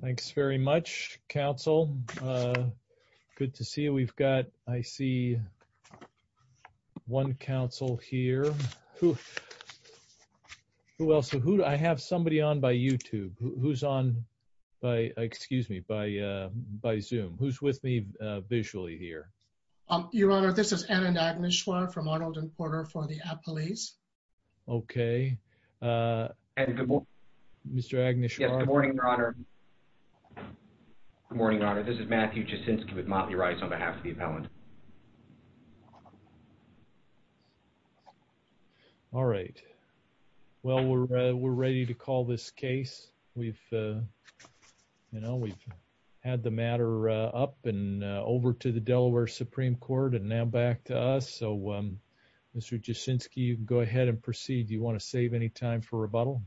Thanks very much, Council. Good to see you. We've got, I see, one council here. Who else? I have somebody on by YouTube. Who's on by, excuse me, by Zoom. Who's with me visually here? Your Honor, this is Anand Agnishwar from Arnold and Porter for the Appalachian Police. Okay. Good morning. Mr. Agnishwar. Good morning, Your Honor. This is Matthew Jaczynski with Motley Rice on behalf of the appellant. All right. Well, we're, uh, we're ready to call this case. We've, uh, you know, we've had the matter, uh, up and, uh, over to the Delaware Supreme Court and now back to us. So, um, Mr. Jaczynski, you can go ahead and proceed. Do you want to save any time for rebuttal?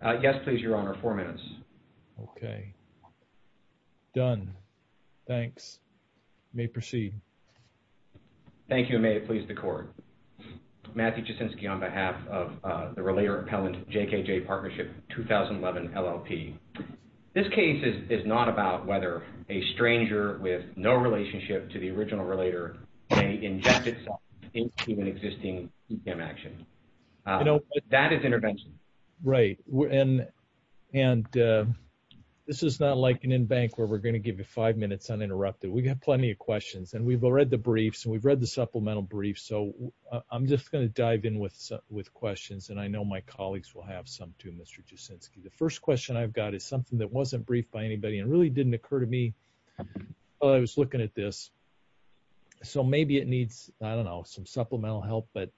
Uh, yes, please, Your Honor. Four minutes. Okay. Done. Thanks. You may proceed. Thank you and may it please the Court. Matthew Jaczynski on behalf of, uh, the Relator Appellant JKJ Partnership 2011 LLP. This case is, is not about whether a stranger with no relationship to the original relator may inject itself into an existing CCAM action. I know. That is intervention. Right. And, and, uh, this is not like an in-bank where we're going to give you five minutes uninterrupted. We've got plenty of questions and we've read the briefs and we've read the supplemental brief. So I'm just going to dive in with, with questions. And I know my colleagues will have some too, Mr. Jaczynski. The first question I've got is something that wasn't briefed by anybody and really didn't occur to me while I was looking at this. So maybe it needs, I don't know, some supplemental help, but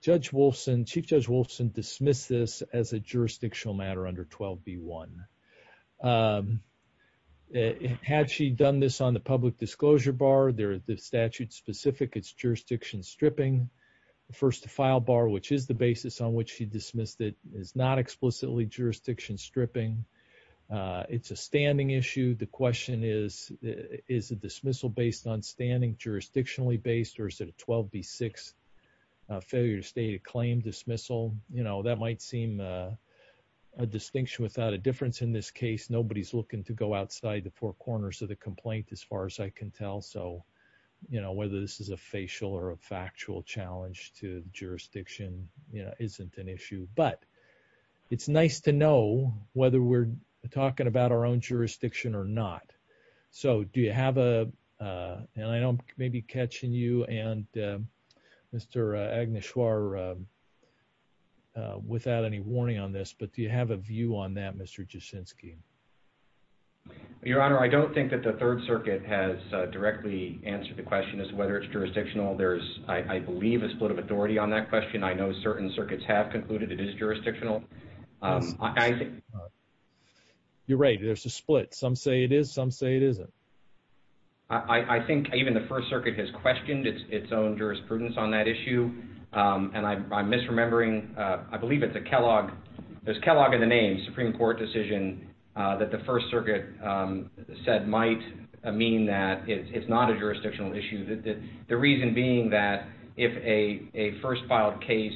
Judge Wolfson, Chief Judge Wolfson dismissed this as a jurisdictional matter under 12B1. Um, had she done this on the public disclosure bar, there, the statute specific, it's jurisdiction stripping. The first to file bar, which is the basis on which she dismissed it is not explicitly jurisdiction stripping. Uh, it's a standing issue. The question is, is a dismissal based on standing jurisdictionally based or is it a 12B6, a failure to state a claim dismissal? You know, that might seem a distinction without a difference in this case. Nobody's looking to go outside the four corners of the complaint as far as I can tell. So, you know, whether this is a facial or a factual challenge to jurisdiction, you know, isn't an issue, but it's nice to know whether we're talking about our own jurisdiction or not. So do you have a, uh, and I don't know if Mark may be catching you and, uh, Mr Agnes Schwartz, uh, without any warning on this. But do you have a view on that, Mr Jashinsky? Your Honor, I don't think that the Third Circuit has directly answered. The question is whether it's jurisdictional. There's, I believe, a split of authority on that question. I know certain circuits have concluded it is jurisdictional. I think you're right. There's a split. Some say it is. Some say it isn't. I think even the First Circuit has questioned its own jurisprudence on that issue. And I'm misremembering, I believe it's a Kellogg, there's Kellogg in the name, Supreme Court decision that the First Circuit said might mean that it's not a jurisdictional issue. The reason being that if a first filed case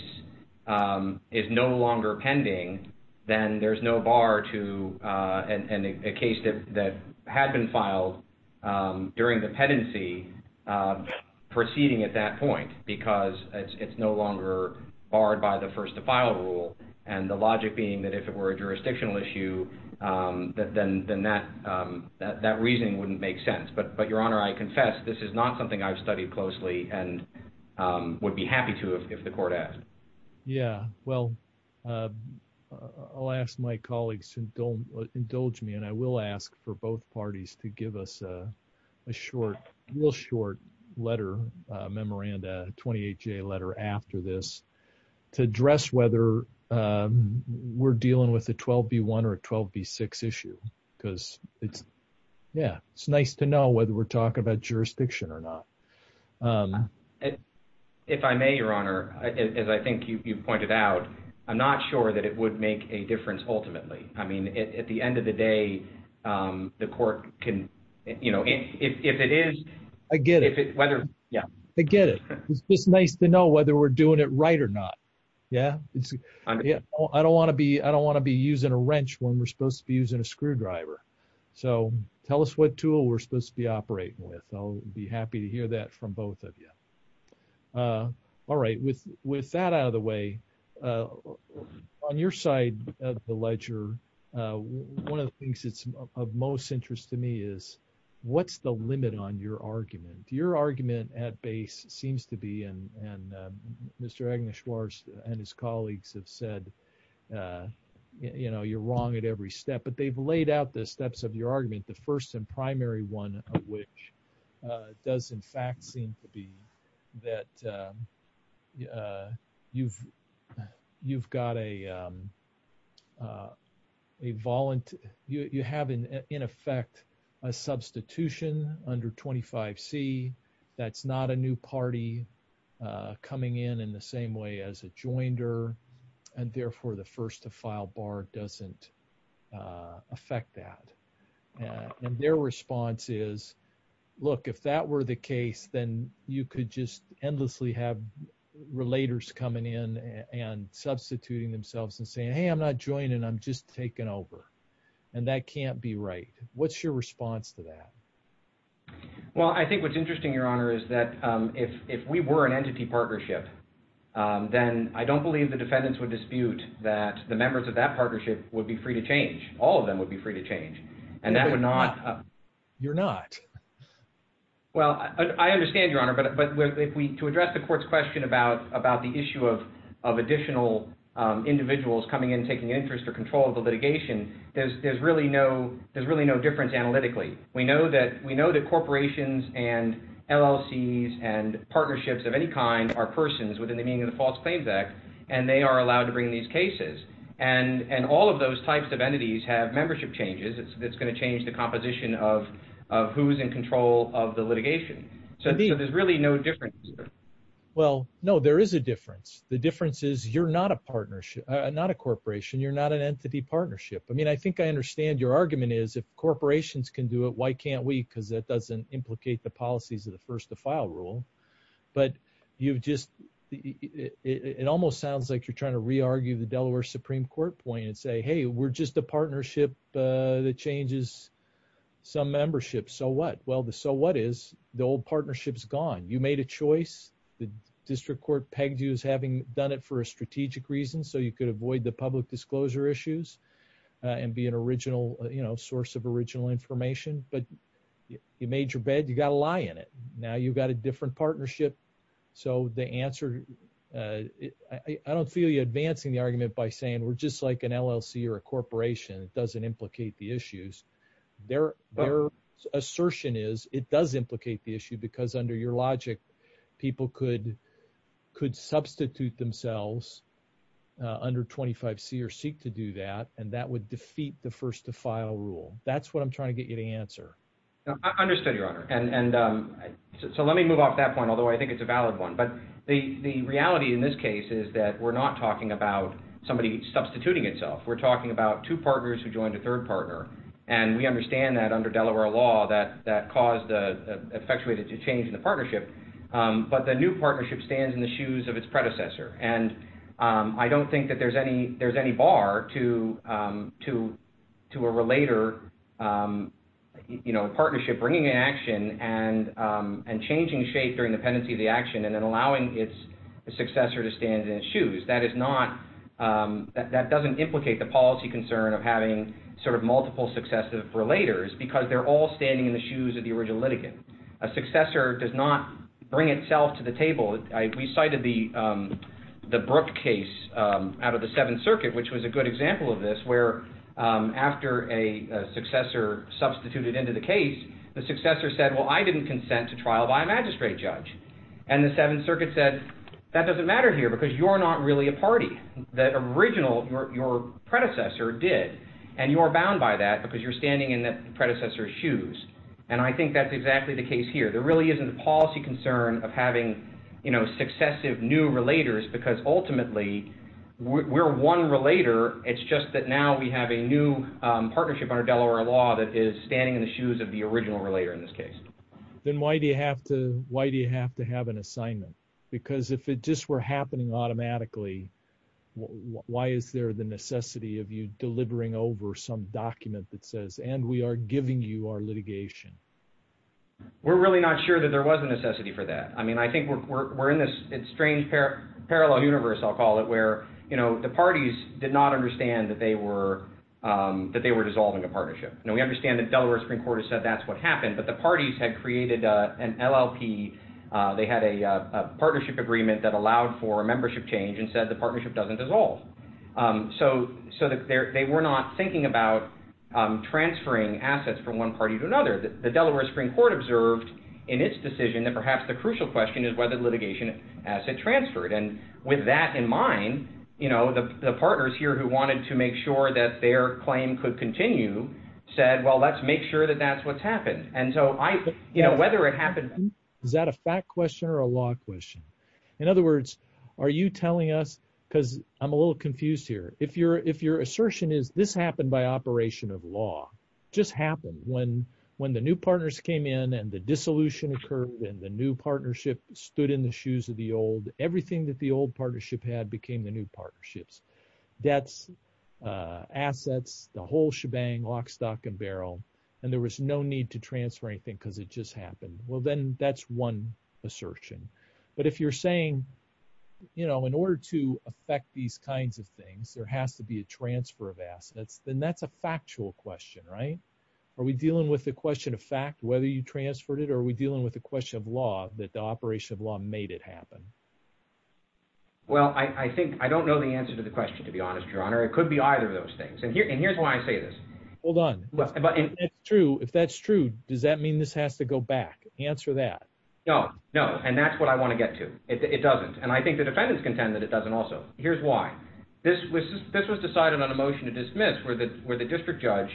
is no longer pending, then there's no bar to, uh, and a case that had been filed, um, during the pendency, uh, proceeding at that point because it's no longer barred by the first to file rule. And the logic being that if it were a jurisdictional issue, um, then, then that, um, that, that reasoning wouldn't make sense. But, but Your Honor, I confess this is not something I've studied closely and, um, would be happy to if the court asked. Yeah. Well, uh, I'll ask my colleagues and don't indulge me. And I will ask for both parties to give us a, a short, real short letter, a memorandum, a 28 J letter after this to address whether, um, we're dealing with a 12 B one or a 12 B six issue because it's, yeah, it's nice to know whether we're talking about jurisdiction or not. Um, if I may, Your Honor, as I think you've, you've pointed out, I'm not sure that it would make a difference ultimately. I mean, at the end of the day, um, the court can, you know, if, if, if it is, I get it, whether, yeah, I get it. It's just nice to know whether we're doing it right or not. Yeah. Yeah. I don't want to be, I don't want to be using a wrench when we're supposed to be using a screwdriver. So tell us what tool we're supposed to be operating with. I'll be happy to hear that from both of you. Uh, all right. With, with that out of the way, uh, on your side of the ledger, uh, one of the things that's of most interest to me is what's the limit on your argument, your argument at base seems to be, and, and, um, Mr. Agnes Schwartz and his colleagues have said, uh, you know, you're wrong at every step, but they've laid out the steps of your argument. The first and primary one of which, uh, does in fact seem to be that, um, uh, you've, you've got a, um, uh, a volunteer, you, you have an, in effect, a substitution under 25 C that's not a new party, uh, coming in in the same way as a joinder. And therefore the first to file bar doesn't, uh, affect that. And their response is look, if that were the case, then you could just endlessly have relators coming in and substituting themselves and saying, Hey, I'm not joining. I'm just taking over. And that can't be right. What's your response to that? Well, I think what's interesting, your honor, is that, um, if, if we were an entity partnership, um, then I don't believe the defendants would dispute that the members of that partnership would be free to change. All of them would be free to change. And that would not, uh, you're not, well, I understand your honor, but, but if we, to address the court's question about, about the issue of, of additional, um, individuals coming in and taking interest or control of the litigation, there's, there's really no, there's really no difference analytically. We know that we know that corporations and LLCs and partnerships of any kind are persons within the meaning of the false claims act, and they are allowed to bring these cases. And, and all of those types of entities have membership changes. It's, it's going to change the composition of, of who's in control of the litigation. So there's really no difference. Well, no, there is a difference. The difference is you're not a partnership, not a corporation. You're not an entity partnership. I mean, I think I understand your argument is if corporations can do it, why can't we? Cause that doesn't implicate the policies of the first to file rule, but you've just, it almost sounds like you're trying to re-argue the Delaware Supreme court point and say, Hey, we're just a partnership, uh, that changes some membership. So what, well, the, so what is the old partnerships gone? You made a choice. The district court pegged you as having done it for a strategic reason. So you could avoid the public disclosure issues, uh, and be an original, you know, source of original information, but you made your bed, you got to lie in it. Now you've got a different partnership. So the answer, uh, I don't feel you advancing the argument by saying we're just like an LLC or a corporation. It doesn't implicate the issues. They're their assertion is it does implicate the issue because under your logic, people could, could substitute themselves, uh, under 25 C or seek to do that. And that would defeat the first to file rule. That's what I'm trying to get you to answer. I understood your honor. And, and, um, so let me move off that point, although I think it's a valid one, but the, the reality in this case is that we're not talking about somebody substituting itself. We're talking about two partners who joined a third partner. And we understand that under Delaware law that, that caused the effectuated to change in the partnership. Um, but the new partnership stands in the shoes of its predecessor. And, um, I don't think that there's any, there's any bar to, um, to, to a relater, um, you know, partnership bringing an action and, um, and changing shape during the pendency of the action and then allowing its successor to stand in his shoes. That is not, um, that, that doesn't implicate the policy concern of having sort of a successor does not bring itself to the table. I, we cited the, um, the Brooke case, um, out of the seventh circuit, which was a good example of this, where, um, after a successor substituted into the case, the successor said, well, I didn't consent to trial by magistrate judge. And the seventh circuit said, that doesn't matter here because you're not really a party that original your, your predecessor did. And you are bound by that because you're standing in that predecessor shoes. And I think that's exactly the case here. There really isn't a policy concern of having, you know, successive new relators because ultimately we're one relater. It's just that now we have a new, um, partnership under Delaware law that is standing in the shoes of the original relater in this case. Then why do you have to, why do you have to have an assignment? Because if it just were happening automatically, why is there the necessity of delivering over some document that says, and we are giving you our litigation? We're really not sure that there was a necessity for that. I mean, I think we're, we're, we're in this strange pair parallel universe. I'll call it where, you know, the parties did not understand that they were, um, that they were dissolving a partnership. And we understand that Delaware Supreme court has said, that's what happened, but the parties had created a, an LLP. Uh, they had a, uh, a partnership agreement that allowed for a membership change and said, the partnership doesn't dissolve. Um, so, so that they're, they were not thinking about, um, transferring assets from one party to another, that the Delaware Supreme court observed in its decision that perhaps the crucial question is whether litigation as it transferred. And with that in mind, you know, the, the partners here who wanted to make sure that their claim could continue said, well, let's make sure that that's what's happened. And so I, you know, whether it Because I'm a little confused here. If you're, if your assertion is this happened by operation of law just happened when, when the new partners came in and the dissolution occurred and the new partnership stood in the shoes of the old, everything that the old partnership had became the new partnerships, debts, uh, assets, the whole shebang lock, stock and barrel. And there was no need to transfer anything because it just happened. Well, then that's one Assertion. But if you're saying, you know, in order to affect these kinds of things, there has to be a transfer of assets, then that's a factual question, right? Are we dealing with the question of fact, whether you transferred it, or are we dealing with the question of law that the operation of law made it happen? Well, I think, I don't know the answer to the question, to be honest, your honor, it could be either of those things. And here, and here's why I say this. Hold on. It's true. If that's true, does that mean this has to go back? Answer that. No, no. And that's what I want to get to. It doesn't. And I think the defendants contend that it doesn't also. Here's why. This was, this was decided on a motion to dismiss where the, where the district judge,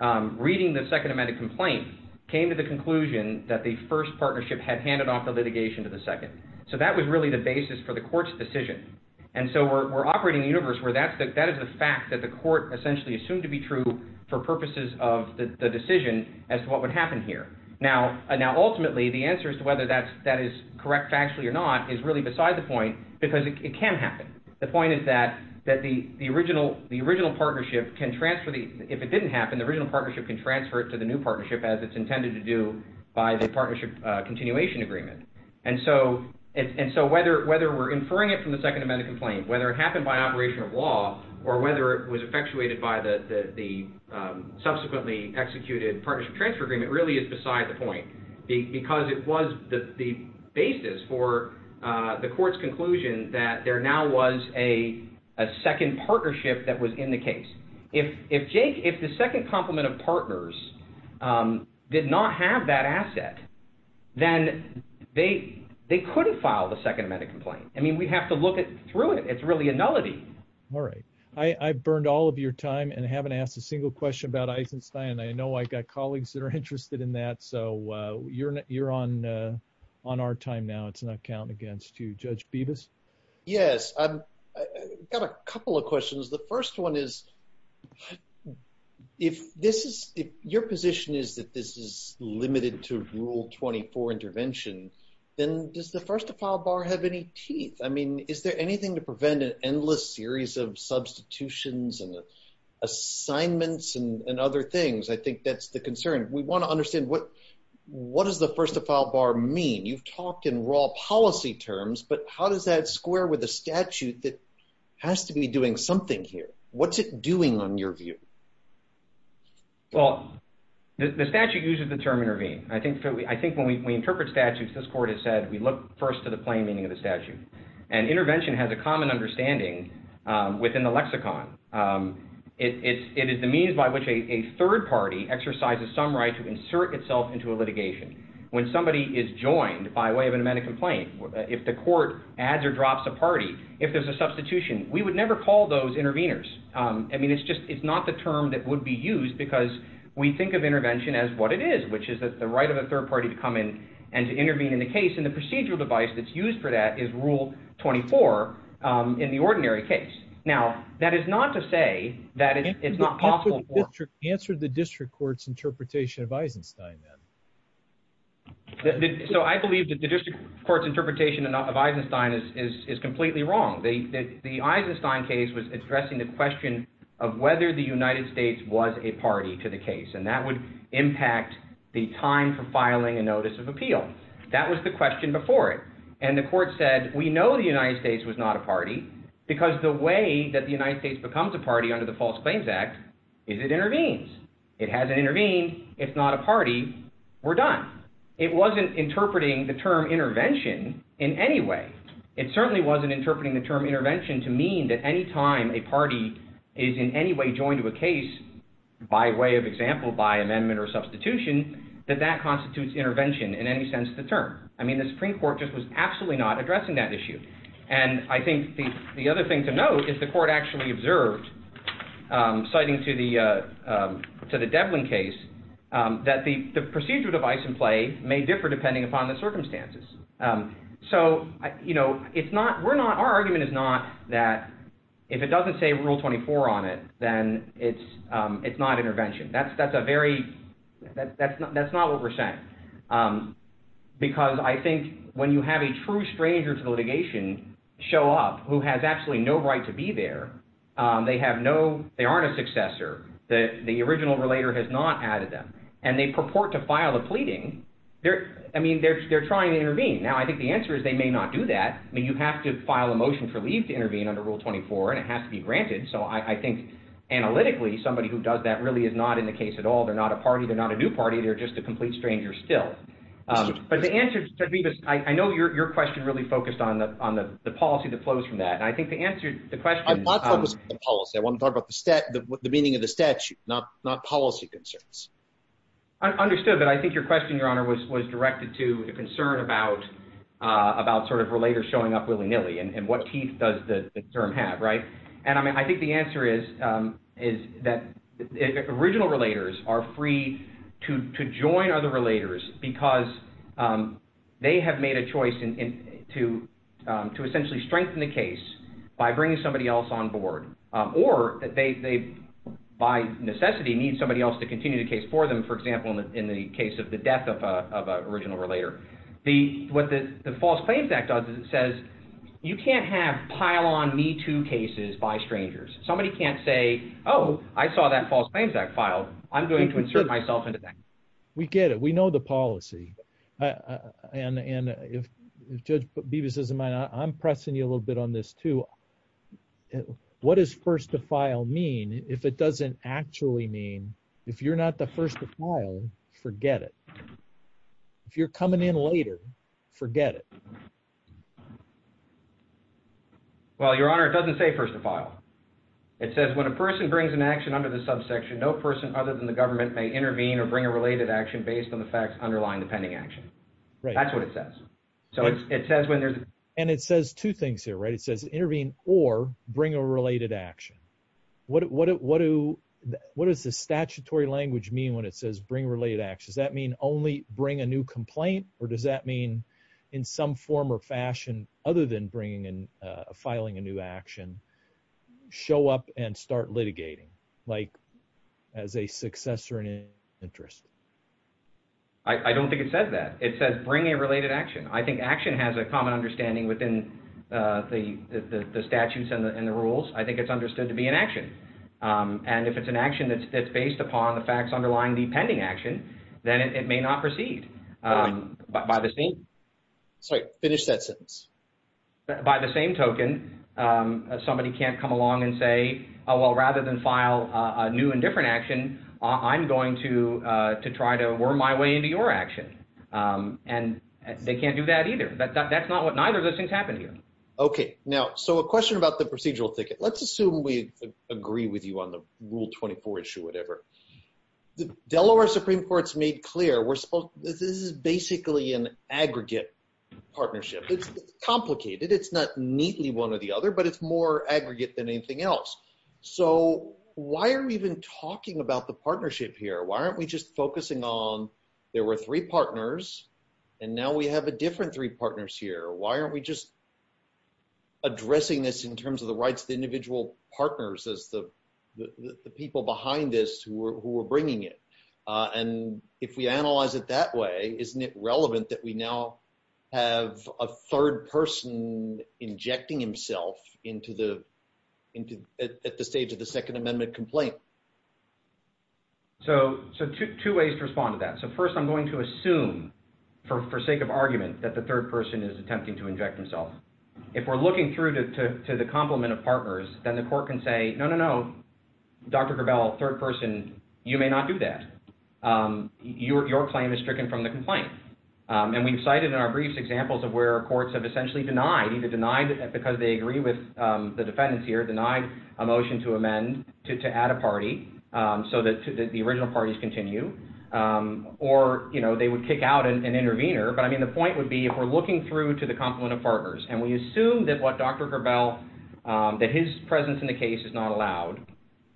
um, reading the second amendment complaint came to the conclusion that the first partnership had handed off the litigation to the second. So that was really the basis for the court's decision. And so we're, we're operating in a universe where that's the, that is the fact that the court essentially assumed to be true for purposes of the decision as to what would happen here. Now, now ultimately the answer as to whether that's, that is correct factually or not is really beside the point because it can happen. The point is that, that the, the original, the original partnership can transfer the, if it didn't happen, the original partnership can transfer it to the new partnership as it's intended to do by the partnership continuation agreement. And so, and so whether, whether we're inferring it from the second amendment complaint, whether it happened by operation of law or whether it executed partnership transfer agreement really is beside the point because it was the, the basis for, uh, the court's conclusion that there now was a, a second partnership that was in the case. If, if Jake, if the second compliment of partners, um, did not have that asset, then they, they couldn't file the second amendment complaint. I mean, we have to look at through it. It's really a nullity. All right. I, I burned all of your time and haven't asked a single question about I know I got colleagues that are interested in that. So, uh, you're, you're on, uh, on our time now. It's not counting against you judge Beavis. Yes. I've got a couple of questions. The first one is if this is your position is that this is limited to rule 24 intervention, then does the first to file bar have any teeth? I mean, is there anything to prevent an endless series of substitutions and assignments and other things? I think that's the concern. We want to understand what, what does the first to file bar mean? You've talked in raw policy terms, but how does that square with the statute that has to be doing something here? What's it doing on your view? Well, the statute uses the term intervene. I think, I think when we interpret statutes, this court has said, we look first to the plain meaning of the statute and intervention has a it's, it is the means by which a third party exercises some right to insert itself into a litigation. When somebody is joined by way of an amendment complaint, if the court adds or drops a party, if there's a substitution, we would never call those interveners. I mean, it's just, it's not the term that would be used because we think of intervention as what it is, which is that the right of a third party to come in and to intervene in the case. And the procedural device that's used for that is rule 24 in the ordinary case. Now that is not to say that it's not possible. Answer the district court's interpretation of Eisenstein then. So I believe that the district court's interpretation of Eisenstein is completely wrong. The Eisenstein case was addressing the question of whether the United States was a party to the case, and that would impact the time for filing a notice of appeal. That was the question before it. And the court said, we know the United States was not a party because the way that the United States becomes a party under the False Claims Act is it intervenes. It hasn't intervened. It's not a party. We're done. It wasn't interpreting the term intervention in any way. It certainly wasn't interpreting the term intervention to mean that any time a party is in any way joined to a case by way of example, by amendment or substitution, that that constitutes intervention in any sense of the term. I mean, the Supreme Court just was absolutely not addressing that issue. And I think the other thing to note is the court actually observed, citing to the Devlin case, that the procedural device in play may differ depending upon the circumstances. So, you know, it's not, we're not, our argument is not that if it doesn't say rule 24 on it, then it's not intervention. That's a very, that's not what we're saying. Because I think when you have a true stranger to litigation show up who has absolutely no right to be there, they have no, they aren't a successor. The original relator has not added them. And they purport to file a pleading. I mean, they're trying to intervene. Now, I think the answer is they may not do that. I mean, you have to file a motion for leave to intervene under rule 24, and it has to be granted. So I think analytically, somebody who does that really is not in the case at all. They're not a party. They're not a new party. They're just a complete stranger still. But the answer to me, I know your question really focused on the policy that flows from that. And I think the answer to the question- I'm not focused on the policy. I want to talk about the meaning of the statute, not policy concerns. Understood. But I think your question, Your Honor, was directed to a concern about relators showing up willy-nilly and what teeth does the term have, right? And I mean, I think the answer is that original relators are free to join other relators because they have made a choice to essentially strengthen the case by bringing somebody else on board. Or they, by necessity, need somebody else to continue the case for them, for example, in the case of the death of an adult. And the false claims act says you can't have pile-on me-too cases by strangers. Somebody can't say, oh, I saw that false claims act file. I'm going to insert myself into that. We get it. We know the policy. And if Judge Bevis doesn't mind, I'm pressing you a little bit on this too. What does first to file mean? If it doesn't actually mean, if you're not the relator, forget it. Well, Your Honor, it doesn't say first to file. It says when a person brings an action under the subsection, no person other than the government may intervene or bring a related action based on the facts underlying the pending action. That's what it says. And it says two things here, right? It says intervene or bring a related action. What does the statutory language mean when it says bring related actions? Does that mean only bring a new complaint or does that mean in some form or fashion other than bringing in, filing a new action, show up and start litigating like as a successor in interest? I don't think it says that. It says bring a related action. I think action has a common understanding within the statutes and the rules. I think it's understood to be an action. And if it's an action that's based upon the facts underlying the pending action, then it may not proceed. Sorry, finish that sentence. By the same token, somebody can't come along and say, oh, well, rather than file a new and different action, I'm going to try to worm my way into your action. And they can't do that either. That's not what neither of those things happen here. Okay. Now, so a question about the procedural clear. This is basically an aggregate partnership. It's complicated. It's not neatly one or the other, but it's more aggregate than anything else. So why are we even talking about the partnership here? Why aren't we just focusing on there were three partners and now we have a different three partners here. Why aren't we just addressing this in terms of the rights of the individual partners as the people behind this who were bringing it? And if we analyze it that way, isn't it relevant that we now have a third person injecting himself at the stage of the second amendment complaint? So two ways to respond to that. So first, I'm going to assume for sake of argument that the third person is attempting to inject himself. If we're looking through to the complement of partners, then the court can say, no, no, no, Dr. Gravel, third person, you may not do that. Your claim is stricken from the complaint. And we've cited in our briefs examples of where courts have essentially denied, either denied because they agree with the defendants here, denied a motion to amend to add a party so that the original parties continue. Or, you know, they would kick out an intervener. But I mean, if we're looking through to the complement of partners and we assume that what Dr. Gravel, that his presence in the case is not allowed,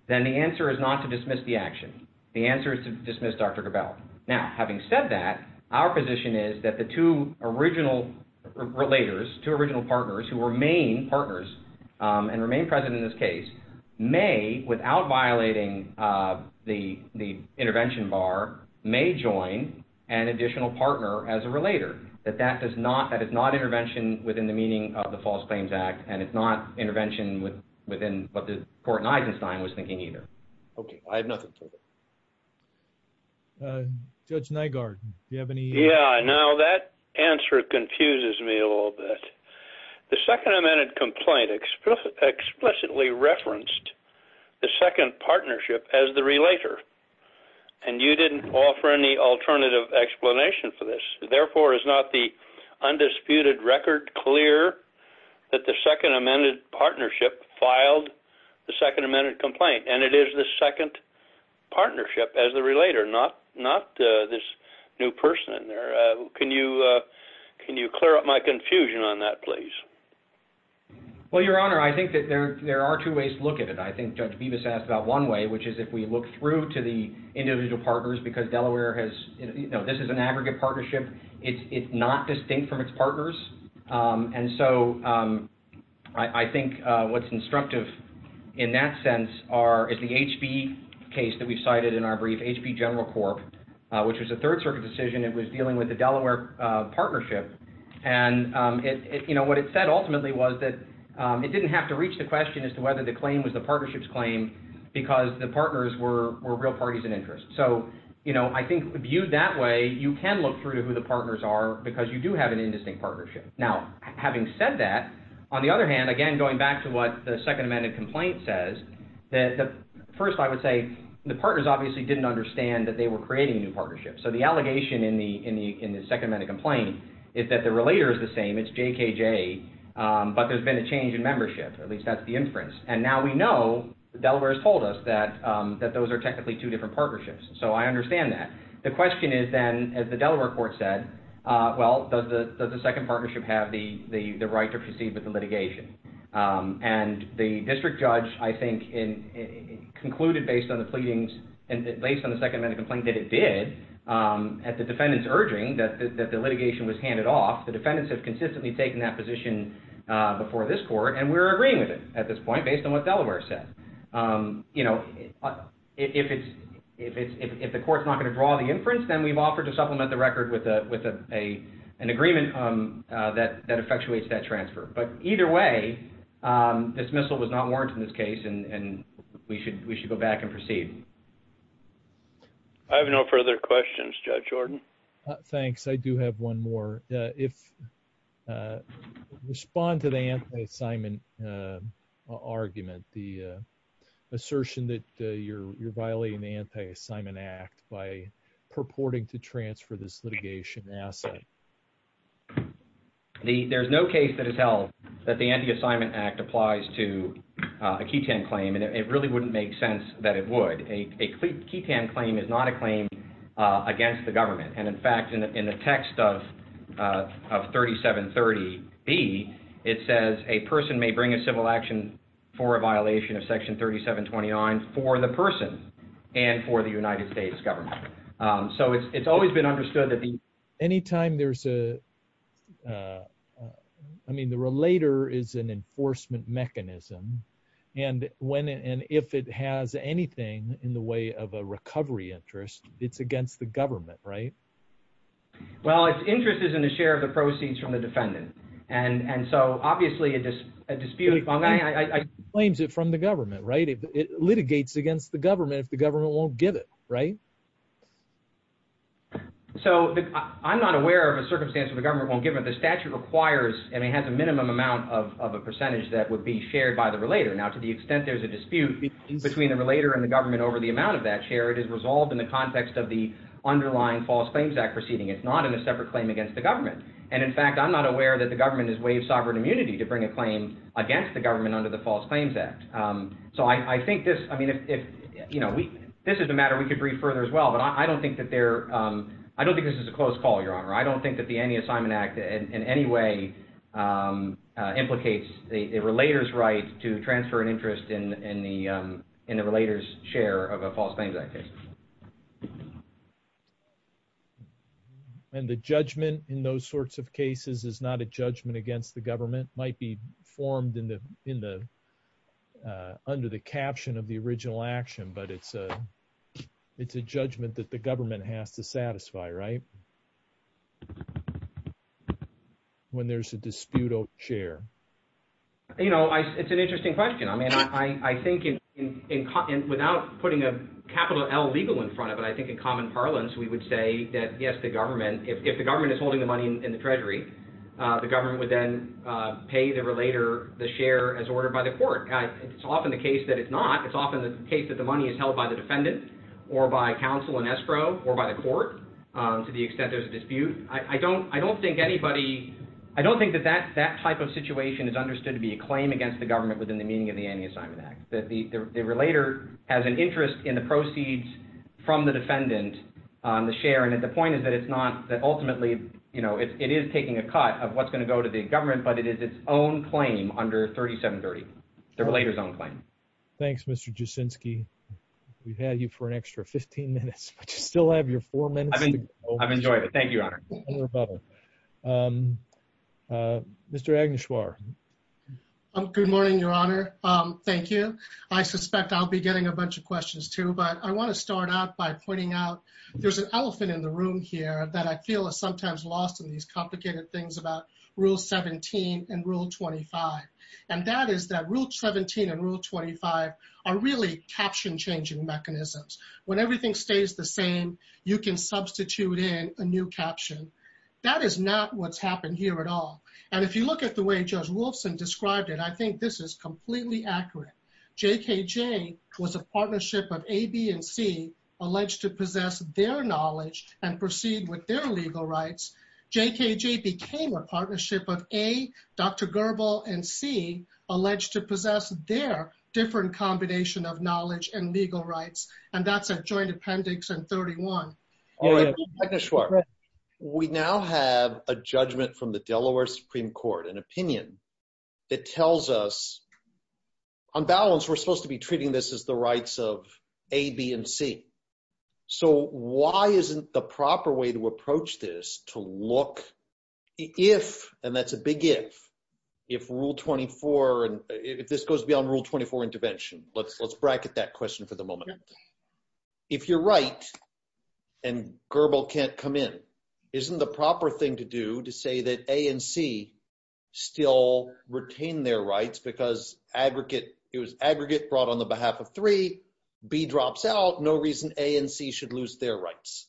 then the answer is not to dismiss the action. The answer is to dismiss Dr. Gravel. Now, having said that, our position is that the two original relators, two original partners who remain partners and remain present in this case may, without violating the the intervention bar, may join an additional partner as a relator, that that does not that is not intervention within the meaning of the False Claims Act. And it's not intervention within what the court was thinking either. Okay, I have nothing. Judge Nygaard, you have any? Yeah, now that answer confuses me a little bit. The second amended complaint explicitly referenced the second partnership as the relator. And you didn't offer any alternative explanation for this. Therefore, is not the undisputed record clear that the second amended partnership filed the second amended complaint and it is the second partnership as the relator, not not this new person in there? Can you? Can you clear up my question, please? Well, Your Honor, I think that there are two ways to look at it. I think Judge Bevis asked about one way, which is if we look through to the individual partners, because Delaware has, you know, this is an aggregate partnership. It's not distinct from its partners. And so I think what's instructive in that sense are is the HB case that we've cited in our brief HB General Corp, which was a Third Circuit decision. It was dealing with the Delaware partnership. And, you know, what it said ultimately was that it didn't have to reach the question as to whether the claim was the partnership's claim, because the partners were real parties in interest. So, you know, I think viewed that way, you can look through to who the partners are, because you do have an indistinct partnership. Now, having said that, on the other hand, again, going back to what the second amended complaint says, that first, I would say, the partners obviously didn't understand that they were creating new partnerships. So the is that the relator is the same. It's JKJ, but there's been a change in membership. At least that's the inference. And now we know, Delaware has told us that those are technically two different partnerships. So I understand that. The question is then, as the Delaware court said, well, does the second partnership have the right to proceed with the litigation? And the district judge, I think, concluded based on the pleadings and based on the second urging that the litigation was handed off, the defendants have consistently taken that position before this court. And we're agreeing with it at this point, based on what Delaware said. You know, if the court's not going to draw the inference, then we've offered to supplement the record with an agreement that effectuates that transfer. But either way, dismissal was not warranted in this case, and we should go back and proceed. I have no further questions, Judge Jordan. Thanks. I do have one more. If you respond to the anti-assignment argument, the assertion that you're violating the Anti-Assignment Act by purporting to transfer this litigation asset. There's no case that has held that the Anti-Assignment Act applies to a ketan claim, and it really wouldn't make sense that it would. A ketan claim is not a claim against the government. And in fact, in the text of 3730B, it says a person may bring a civil action for a violation of Section 3729 for the person and for the United States government. So it's always been understood that the anytime there's a, I mean, the relator is an enforcement mechanism. And when and if it has anything in the way of a recovery interest, it's against the government, right? Well, its interest is in the share of the proceeds from the defendant. And so obviously, a disputed claim is from the government, right? It litigates against the government if the government won't give it, right? So I'm not aware of a circumstance where the government won't give it. The statute requires and it has a minimum amount of a percentage that would be shared by the relator. Now, to the extent there's a dispute between the relator and the government over the amount of that share, it is resolved in the context of the underlying False Claims Act proceeding. It's not in a separate claim against the government. And in fact, I'm not aware that the government has waived sovereign immunity to bring a claim against the government under the False Claims Act. So I think this, I mean, if, you know, this is a matter we could read further as well, but I don't think that there, I don't think this is a close call, Your Honor. I don't think that the Anti-Assignment Act in any way implicates the relator's right to transfer an interest in the relator's share of a False Claims Act case. And the judgment in those sorts of cases is not a judgment against the government, might be formed under the caption of the original action, but it's a judgment that government has to satisfy, right? When there's a disputed share. You know, it's an interesting question. I mean, I think without putting a capital L legal in front of it, I think in common parlance, we would say that, yes, the government, if the government is holding the money in the treasury, the government would then pay the relator the share as ordered by the court. It's often the case that it's not. It's often the case that the money is held by the or by the court to the extent there's a dispute. I don't think anybody, I don't think that that type of situation is understood to be a claim against the government within the meaning of the Anti-Assignment Act. That the relator has an interest in the proceeds from the defendant on the share. And the point is that it's not that ultimately, you know, it is taking a cut of what's going to go to the government, but it is its own claim under 3730, the relator's own claim. Thanks, Mr. Jasinski. We've had you for an extra 15 minutes, but you still have your four minutes. I've enjoyed it. Thank you, Your Honor. Mr. Agnishwar. Good morning, Your Honor. Thank you. I suspect I'll be getting a bunch of questions too, but I want to start out by pointing out there's an elephant in the room here that I feel is sometimes lost in these complicated things about Rule 17 and Rule 25. And that is that Rule 17 and Rule 25 are really caption changing mechanisms. When everything stays the same, you can substitute in a new caption. That is not what's happened here at all. And if you look at the way Judge Wolfson described it, I think this is completely accurate. J.K.J. was a partnership of A, B, and C alleged to possess their knowledge and proceed with their legal rights. J.K.J. became a partnership of A, Dr. Goebel, and C alleged to possess their different combination of knowledge and legal rights. And that's a joint appendix in 31. Mr. Agnishwar, we now have a judgment from the Delaware Supreme Court, an opinion that tells us, on balance, we're supposed to be treating this as rights of A, B, and C. So why isn't the proper way to approach this to look if, and that's a big if, if Rule 24, if this goes beyond Rule 24 intervention, let's bracket that question for the moment. If you're right, and Goebel can't come in, isn't the proper thing to do to say that A and B drops out, no reason A and C should lose their rights?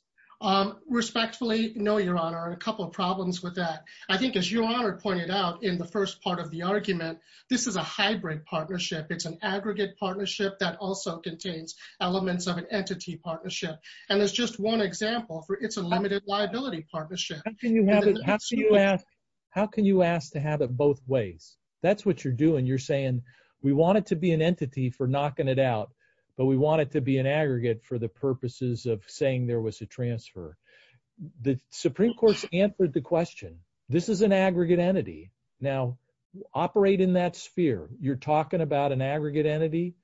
Respectfully, no, Your Honor. A couple problems with that. I think as Your Honor pointed out in the first part of the argument, this is a hybrid partnership. It's an aggregate partnership that also contains elements of an entity partnership. And there's just one example for it's a limited liability partnership. How can you have it, how can you ask, how can you ask to have it both ways? That's what you're doing. You're saying, we want it to be an entity for knocking it out. But we want it to be an aggregate for the purposes of saying there was a transfer. The Supreme Court's answered the question. This is an aggregate entity. Now, operate in that sphere. You're talking about an aggregate entity.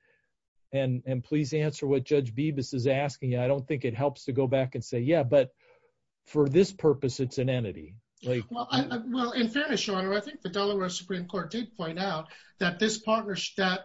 And please answer what Judge Bibas is asking. I don't think it helps to go back and say, yeah, but for this purpose, it's an entity. Well, in fairness, Your Honor, I think the Delaware Supreme Court did point out that this partnership, that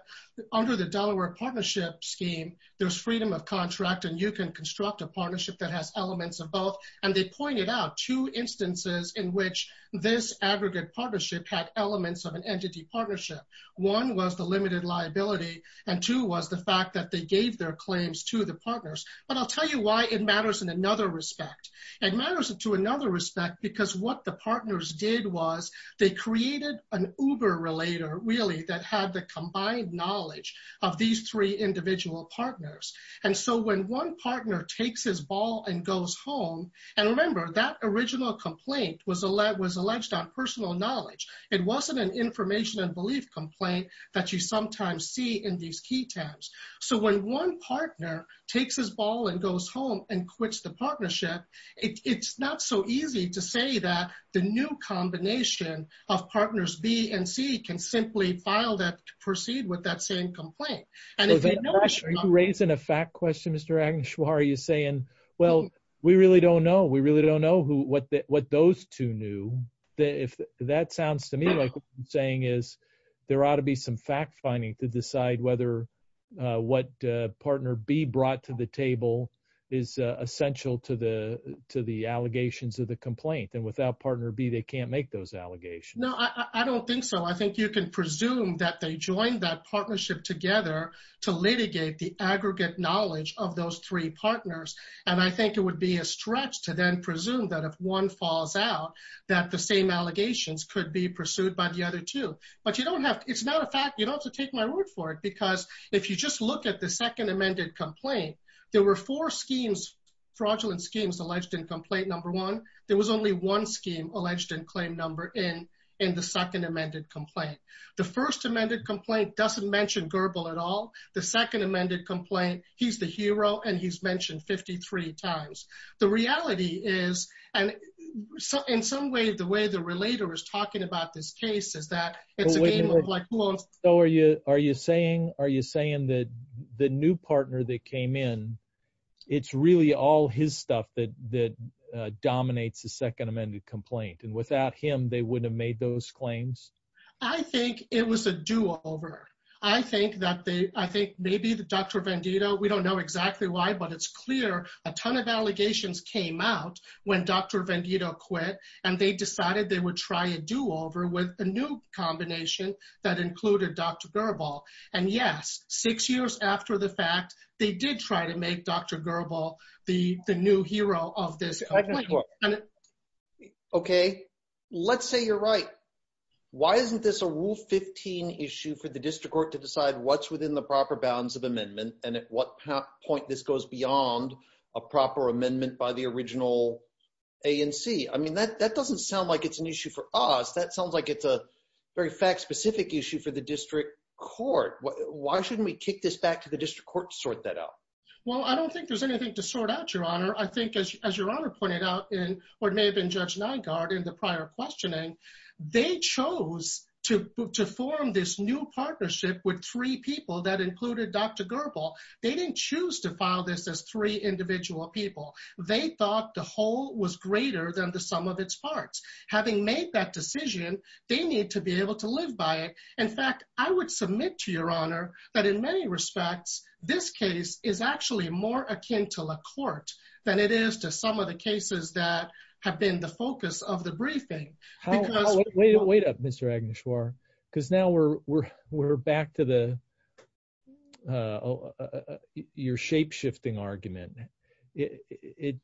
under the Delaware partnership scheme, there's freedom of contract, and you can construct a partnership that has elements of both. And they pointed out two instances in which this aggregate partnership had elements of an entity partnership. One was the limited liability, and two was the fact that they gave their claims to the partners. But I'll tell you why it matters in another respect. It matters to another respect because what the partners did was they created an uber-relator, really, that had the combined knowledge of these three individual partners. And so when one partner takes his ball and goes home, and remember, that original complaint was alleged on personal knowledge. It wasn't an information and belief complaint that you sometimes see in these key tabs. So when one partner takes his ball and goes home, you can see that the new combination of partners B and C can simply file that to proceed with that same complaint. And if you know- Are you raising a fact question, Mr. Agnish, or are you saying, well, we really don't know. We really don't know what those two knew. That sounds to me like what you're saying is there ought to be some fact finding to decide whether what partner B brought to the table is essential to the allegations of the complaint. And without partner B, they can't make those allegations. No, I don't think so. I think you can presume that they joined that partnership together to litigate the aggregate knowledge of those three partners. And I think it would be a stretch to then presume that if one falls out, that the same allegations could be pursued by the other two. But you don't have to. It's not a fact. You don't have to take my word for it. Because if you just look at the second amended complaint, there were four fraudulent schemes alleged in complaint number one. There was only one scheme alleged in claim number in the second amended complaint. The first amended complaint doesn't mention Gerbil at all. The second amended complaint, he's the hero, and he's mentioned 53 times. The reality is, and in some way, the way the saying that the new partner that came in, it's really all his stuff that dominates the second amended complaint. And without him, they wouldn't have made those claims. I think it was a do over. I think maybe the Dr. Venditto, we don't know exactly why, but it's clear a ton of allegations came out when Dr. Venditto quit, and they decided they would try do over with a new combination that included Dr. Gerbil. And yes, six years after the fact, they did try to make Dr. Gerbil the new hero of this. Okay, let's say you're right. Why isn't this a rule 15 issue for the district court to decide what's within the proper bounds of amendment? And at what point this goes beyond a proper That sounds like it's a very fact-specific issue for the district court. Why shouldn't we kick this back to the district court to sort that out? Well, I don't think there's anything to sort out, Your Honor. I think as Your Honor pointed out in what may have been Judge Nygaard in the prior questioning, they chose to form this new partnership with three people that included Dr. Gerbil. They didn't choose to file this as three individual people. They thought the whole was greater than the sum of its parts. Having made that decision, they need to be able to live by it. In fact, I would submit to Your Honor that in many respects, this case is actually more akin to LaCorte than it is to some of the cases that have been the focus of the briefing. Wait up, Mr. Agnishwara, because now we're back to your shape-shifting argument. It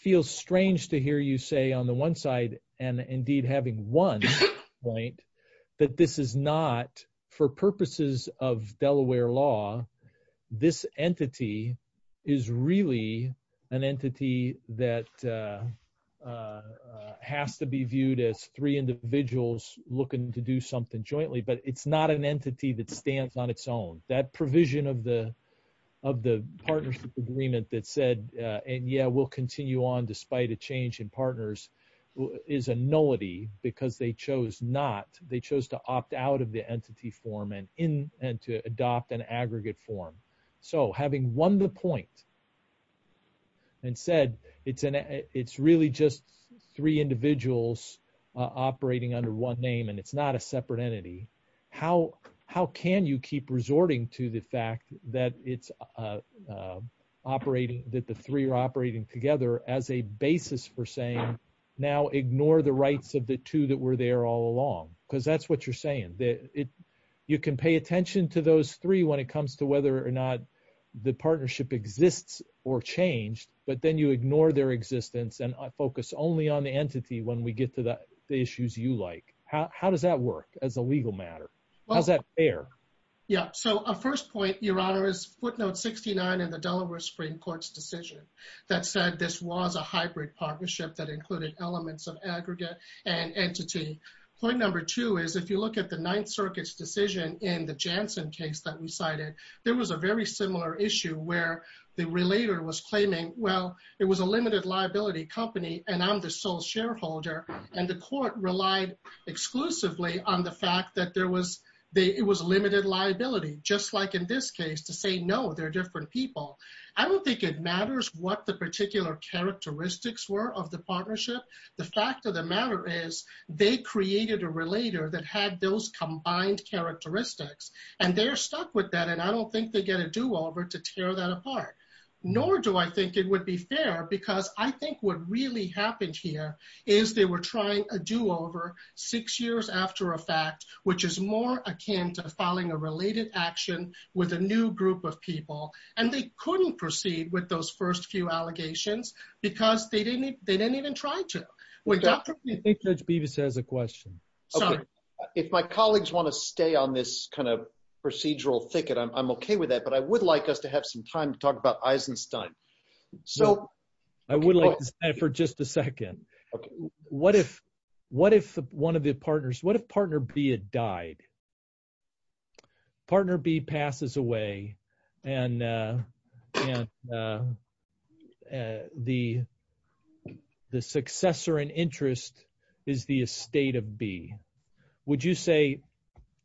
feels strange to hear you say on the one side, and indeed having won, that this is not, for purposes of Delaware law, this entity is really an entity that has to be viewed as three individuals looking to do something jointly, but it's not an entity that stands on its own. That provision of the partnership agreement that said, yeah, we'll continue on despite a change in partners is a nullity because they chose not. They chose to opt out of the entity form and to adopt an aggregate form. So having won the point and said it's really just three individuals operating under one name and it's not a how can you keep resorting to the fact that it's operating, that the three are operating together as a basis for saying, now ignore the rights of the two that were there all along, because that's what you're saying. You can pay attention to those three when it comes to whether or not the partnership exists or changed, but then you ignore their existence and focus only on the matter. How's that fair? Yeah, so our first point, Your Honor, is footnote 69 in the Delaware Supreme Court's decision that said this was a hybrid partnership that included elements of aggregate and entity. Point number two is if you look at the Ninth Circuit's decision in the Janssen case that we cited, there was a very similar issue where the relater was claiming, well, it was a limited liability company and I'm the sole shareholder, and the court relied exclusively on the fact that it was a limited liability, just like in this case to say, no, they're different people. I don't think it matters what the particular characteristics were of the partnership. The fact of the matter is they created a relater that had those combined characteristics and they're stuck with that and I don't think they get a do-over to tear that apart. Nor do I think it would be fair because I think what really happened here is they were trying a do-over six years after a fact which is more akin to filing a related action with a new group of people and they couldn't proceed with those first few allegations because they didn't even try to. Judge Bevis has a question. If my colleagues want to stay on this kind of procedural thicket, I'm okay with that, but I would like us to have some time to talk about Eisenstein. I would like to stay for just a second. What if one of the partners, what if partner B had died? Partner B passes away and the successor in interest is the estate of B. Would you say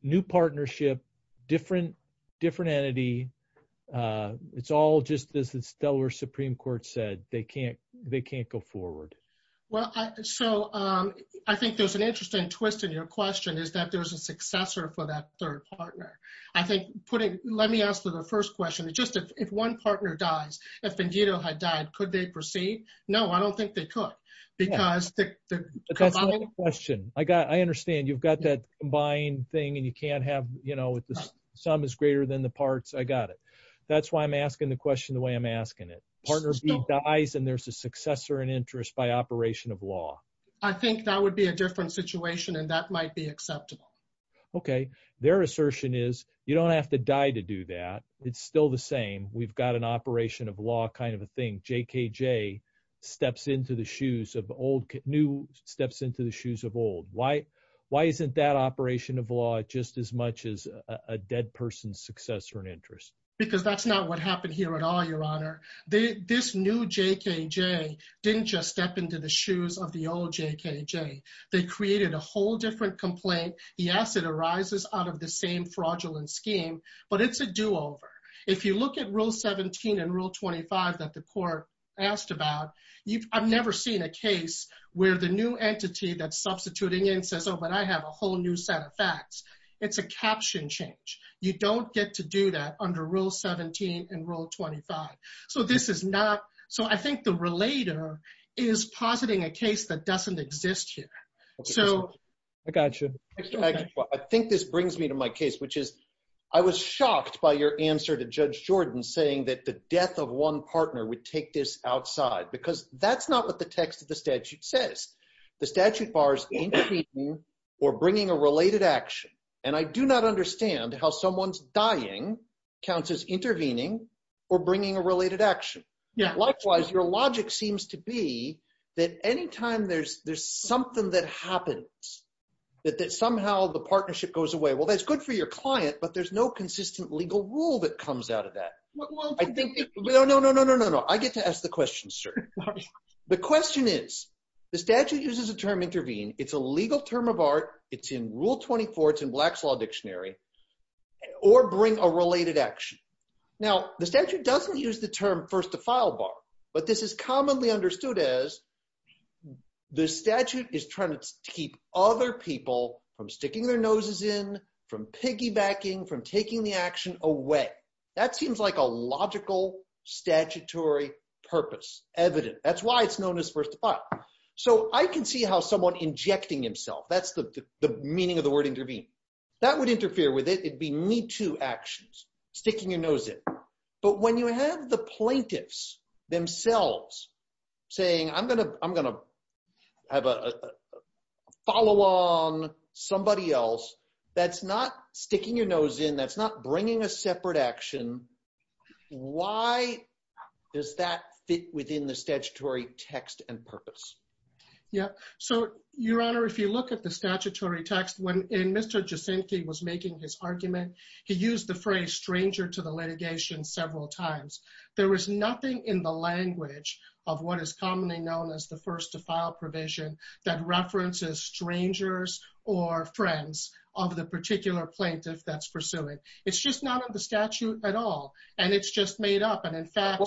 new partnership, different entity, it's all just as the Delaware Supreme Court said, they can't go forward? Well, I think there's an interesting twist in your question is that there's a successor for that third partner. Let me ask the first question. If one partner dies, if Ben Guido had died, could they proceed? No, I don't think they could. Because the question I got, I understand you've got that combined thing and you can't have, you know, if the sum is greater than the parts, I got it. That's why I'm asking the question the way I'm asking it. Partner B dies and there's a successor in interest by operation of law. I think that would be a different situation and that might be acceptable. Okay. Their assertion is you don't have to die to do that. It's still the same. We've got an operation of law kind of a thing. JKJ steps into the shoes of old, new steps into the shoes of old. Why isn't that operation of law just as much as a dead person's successor in interest? Because that's not what happened here at all, your honor. This new JKJ didn't just step into the shoes of the old JKJ. They created a whole different complaint. Yes, it arises out of the fraudulent scheme, but it's a do over. If you look at rule 17 and rule 25 that the court asked about, I've never seen a case where the new entity that's substituting in says, oh, but I have a whole new set of facts. It's a caption change. You don't get to do that under rule 17 and rule 25. So this is not, so I think the relator is positing a case that doesn't exist here. I think this brings me to my case, which is I was shocked by your answer to Judge Jordan saying that the death of one partner would take this outside, because that's not what the text of the statute says. The statute bars intervening or bringing a related action, and I do not understand how someone's dying counts as intervening or bringing a related action. Likewise, your logic seems to be that anytime there's something that happens, that somehow the partnership goes away, well, that's good for your client, but there's no consistent legal rule that comes out of that. No, no, no, no, no, no, no. I get to ask the question, sir. The question is, the statute uses the term intervene. It's a legal term of art. It's in rule 24. It's in Black's Law Dictionary, or bring a related action. Now, the statute doesn't use the term first-to-file bar, but this is commonly understood as the statute is trying to keep other people from sticking their noses in, from piggybacking, from taking the action away. That seems like a logical statutory purpose, evident. That's why it's known as first-to-file. So I can see how someone injecting himself, that's the meaning of the word intervene, that would interfere with it. It'd be me too actions, sticking your nose in. But when you have the plaintiffs themselves saying, I'm going to, I'm going to have a follow on somebody else that's not sticking your nose in, that's not bringing a separate action. Why does that fit within the statutory text and purpose? Yeah. So Your Honor, if you look at the statutory text, when Mr. Jacinthe was making his argument, he used the phrase stranger to the litigation several times. There was nothing in the language of what is commonly known as the first-to-file provision that references strangers or friends of the particular plaintiff that's pursuing. It's just not in the statute at all. And it's just made up. And in fact,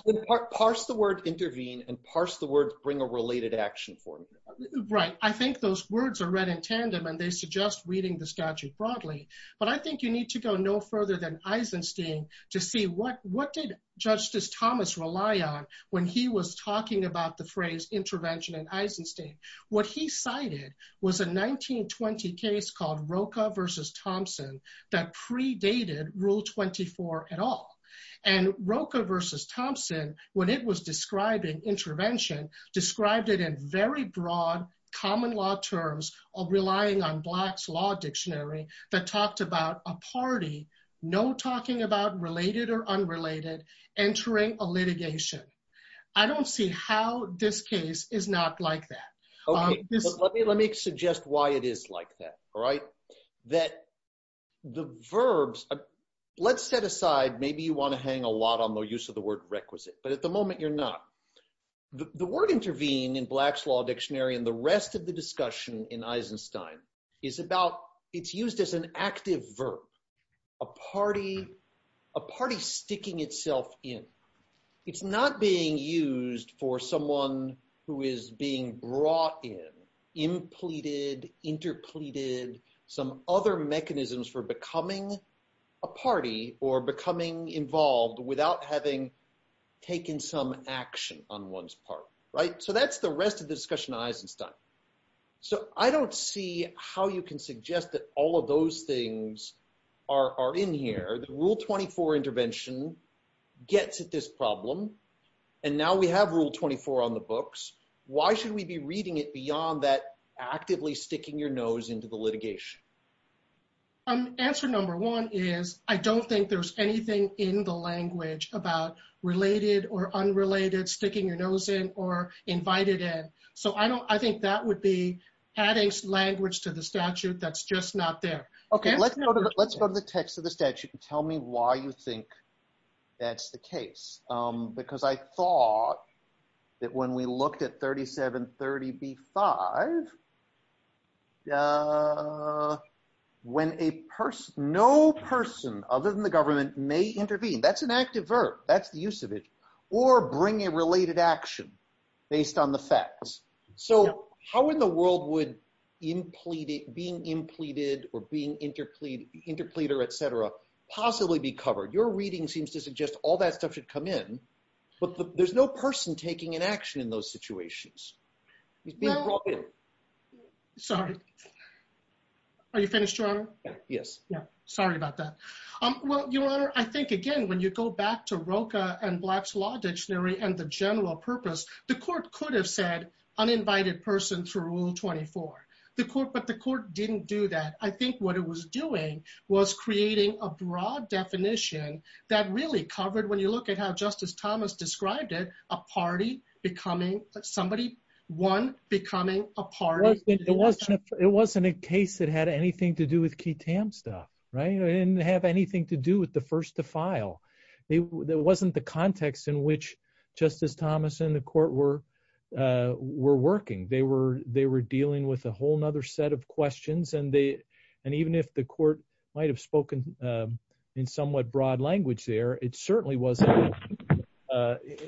parse the word intervene and parse the words, bring a related action for me. Right. I think those words are read in tandem and they suggest reading the statute broadly, but I think you need to go no further than Eisenstein to see what did Justice Thomas rely on when he was talking about the phrase intervention in Eisenstein. What he cited was a 1920 case called Roca v. Thompson that predated Rule 24 at all. And Roca v. Thompson, when it was describing intervention, described it in very broad common law terms of relying on Black's Law Dictionary that talked about a party, no talking about related or unrelated, entering a litigation. I don't see how this case is not like that. Okay. Let me suggest why it is like that. That the verbs, let's set aside, maybe you want to hang a lot on the use of the word requisite, but at the moment you're not. The word intervene in Black's Law Dictionary and the rest of the discussion in Eisenstein is about, it's used as an active verb, a party sticking itself in. It's not being used for someone who is being brought in, impleted, interpleted, some other mechanisms for becoming a party or becoming involved without having taken some action on one's part, right? So that's the rest of the discussion in Eisenstein. So I don't see how you can suggest that all of those things are in here. The Rule 24 intervention gets at this problem and now we have Rule 24 on the books. Why should we be reading it beyond that actively sticking your nose into the litigation? Answer number one is I don't think there's anything in the language about related or unrelated, sticking your nose in or invited in. So I think that would be adding language to the statute that's just not there. Okay. Let's go to the text of the statute. Tell me why you think that's the case. Because I thought that when we looked at 3730b-5, when a person, no person other than the government may intervene, that's an active verb, that's the use of it, or bring a related action based on the facts. So how in the world would being impleted or being interpleader, et cetera, possibly be covered? Your reading seems to suggest all that stuff should come in, but there's no person taking an action in those situations. He's being brought in. Sorry. Are you finished, Your Honor? Yes. Sorry about that. Well, Your Honor, I think again, when you go back to Rocha and Black's Law Dictionary and the general purpose, the court could have said uninvited person through Rule 24, but the court didn't do that. I think what it was doing was creating a broad definition that really covered, when you look at how Justice Thomas described it, a party becoming somebody, one becoming a party. It wasn't a case that had anything to do with Kitam stuff, right? It didn't have anything to were working. They were dealing with a whole nother set of questions. And even if the court might've spoken in somewhat broad language there, it certainly wasn't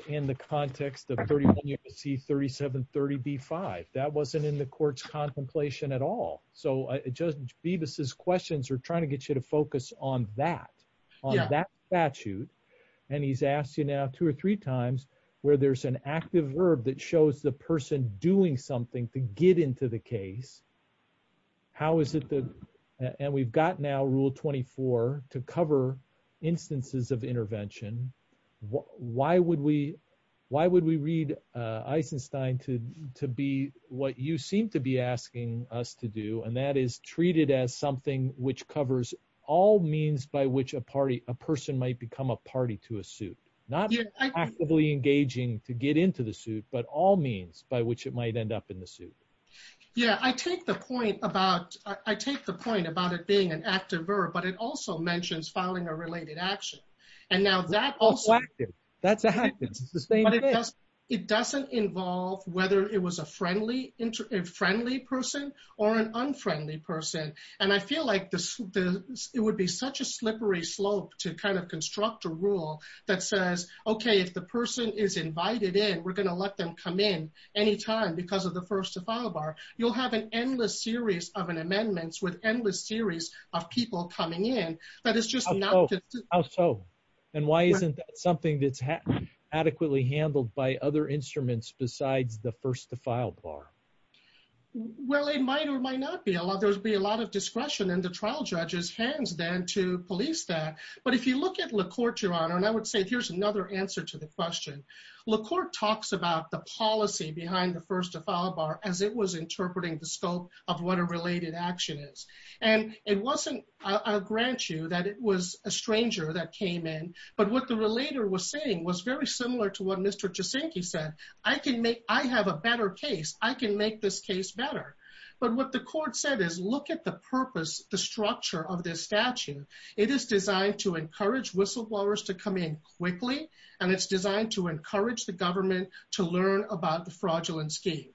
in the context of 31 U.S.C. 3730 B-5. That wasn't in the court's contemplation at all. So Judge Bevis' questions are trying to get you to focus on that, on that statute. And he's asked you now two or three times where there's an active verb that shows the person doing something to get into the case. And we've got now Rule 24 to cover instances of intervention. Why would we read Eisenstein to be what you seem to be asking us to do? And that is treated as something which covers all means by which a party, a person might become a party to a suit. Not actively engaging to get into the suit, but all means by which it might end up in the suit. Yeah. I take the point about, I take the point about it being an active verb, but it also mentions filing a related action. And now that also happens. It doesn't involve whether it was a friendly person or an unfriendly person. And I feel like it would be such a slippery slope to kind of construct a rule that says, okay, if the person is invited in, we're going to let them come in anytime because of the first to file bar. You'll have an endless series of amendments with endless series of people coming in. That is just not... How so? And why isn't that something that's adequately handled by other discretion and the trial judges hands then to police that. But if you look at LaCourte, Your Honor, and I would say, here's another answer to the question. LaCourte talks about the policy behind the first to file bar as it was interpreting the scope of what a related action is. And it wasn't, I'll grant you that it was a stranger that came in, but what the relater was saying was very similar to what Mr. Jusinke said. I can make, I have a better case. I can the structure of this statute. It is designed to encourage whistleblowers to come in quickly, and it's designed to encourage the government to learn about the fraudulent scheme.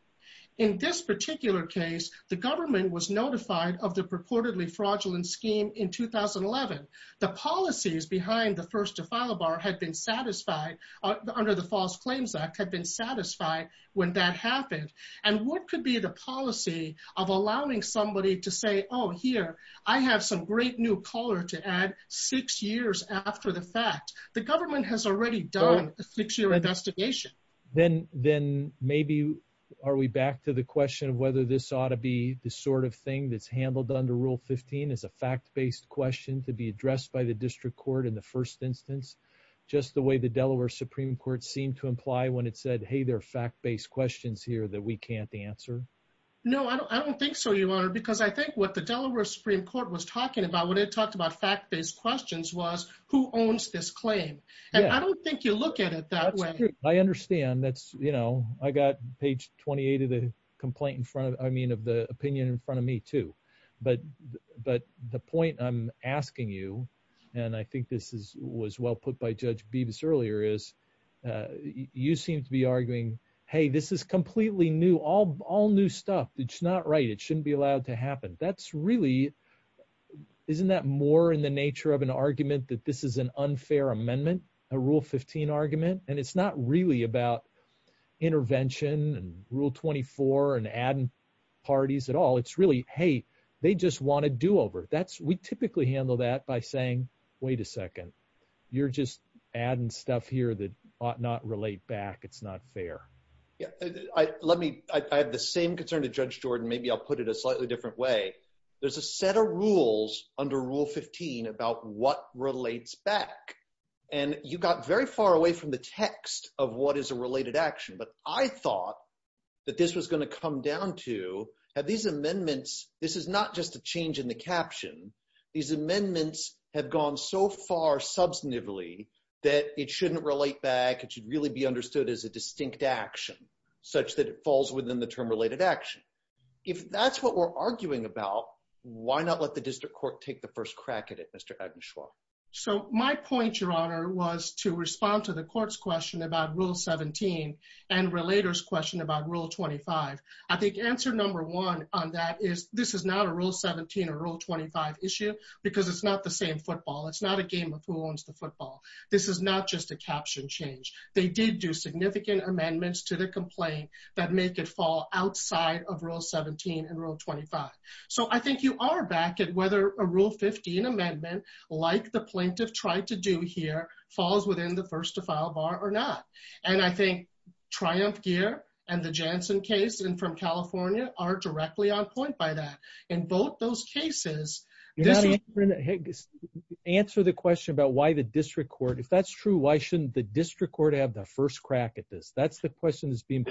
In this particular case, the government was notified of the purportedly fraudulent scheme in 2011. The policies behind the first to file bar had been satisfied under the false claims act had been satisfied when that happened. And what could be the policy of allowing somebody to say, oh, here, I have some great new color to add six years after the fact, the government has already done a six year investigation. Then, then maybe, are we back to the question of whether this ought to be the sort of thing that's handled under Rule 15 is a fact based question to be addressed by the district court in the first instance, just the way the Delaware Supreme Court seemed to imply when it said, hey, there are fact based questions here that we can't answer. No, I don't think so. You are because I think what the Delaware Supreme Court was talking about when it talked about fact based questions was who owns this claim. And I don't think you look at it that way. I understand. That's, you know, I got page 28 of the complaint in front of I mean, of the opinion in front of me too. But But the point I'm asking you, and I think this is was well put by Judge Beavis earlier is you seem to be arguing, hey, this is completely new, all new stuff. It's not right. It shouldn't be allowed to happen. That's really isn't that more in the nature of an argument that this is an unfair amendment, a Rule 15 argument. And it's not really about intervention and Rule 24 and adding parties at all. It's really hey, they just want to do over that's we typically handle that by saying, wait a second. You're just adding stuff that ought not relate back. It's not fair. Yeah, I let me I have the same concern to Judge Jordan. Maybe I'll put it a slightly different way. There's a set of rules under Rule 15 about what relates back. And you got very far away from the text of what is a related action. But I thought that this was going to come down to have these amendments. This is not just a in the caption. These amendments have gone so far substantively, that it shouldn't relate back, it should really be understood as a distinct action, such that it falls within the term related action. If that's what we're arguing about, why not let the district court take the first crack at it, Mr. Edenshaw. So my point, Your Honor, was to respond to the court's question about Rule 17. And relators question about Rule 25. I think answer number one on that is this is not a Rule 17 or Rule 25 issue, because it's not the same football. It's not a game of who owns the football. This is not just a caption change. They did do significant amendments to the complaint that make it fall outside of Rule 17 and Rule 25. So I think you are back at whether a Rule 15 amendment, like the plaintiff tried to do here, falls within the first to file bar or not. And I in both those cases, this answer the question about why the district court if that's true, why shouldn't the district court have the first crack at this? That's the question is being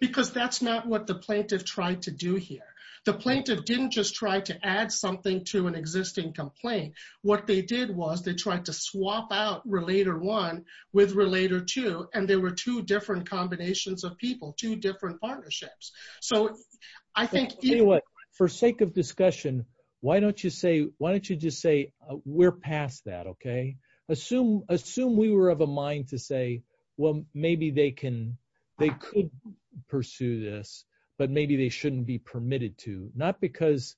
because that's not what the plaintiff tried to do here. The plaintiff didn't just try to add something to an existing complaint. What they did was they tried to swap out Relator One with Relator Two. And there were two different combinations of people, two different partnerships. So I think for sake of discussion, why don't you say why don't you just say we're past that? Okay, assume we were of a mind to say, well, maybe they can, they could pursue this, but maybe they shouldn't be permitted to not because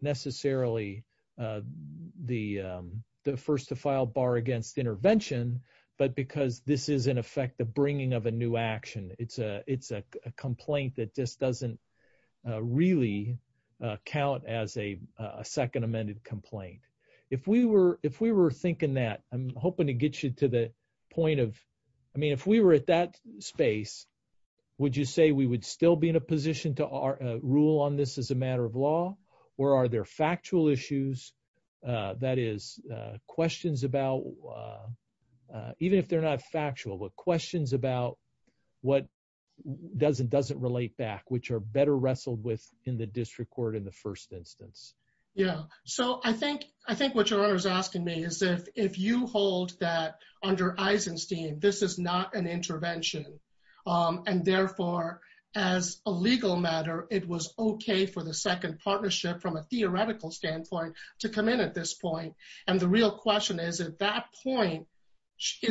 necessarily the first to file bar against intervention, but because this is in effect, the bringing of a new action, it's a, it's a complaint that just doesn't really count as a second amended complaint. If we were, if we were thinking that I'm hoping to get you to the point of, I mean, if we were at that space, would you say we would still be in a position to our rule on this as a matter of law? Or are there factual issues? That is questions about even if they're not factual, but questions about what doesn't, doesn't relate back, which are better wrestled with in the district court in the first instance. Yeah. So I think, I think what you're always asking me is if, if you hold that under Eisenstein, this is not an intervention. And therefore, as a legal matter, it was okay for the second partnership from a theoretical standpoint to come in at this point. And the real question is, at that point,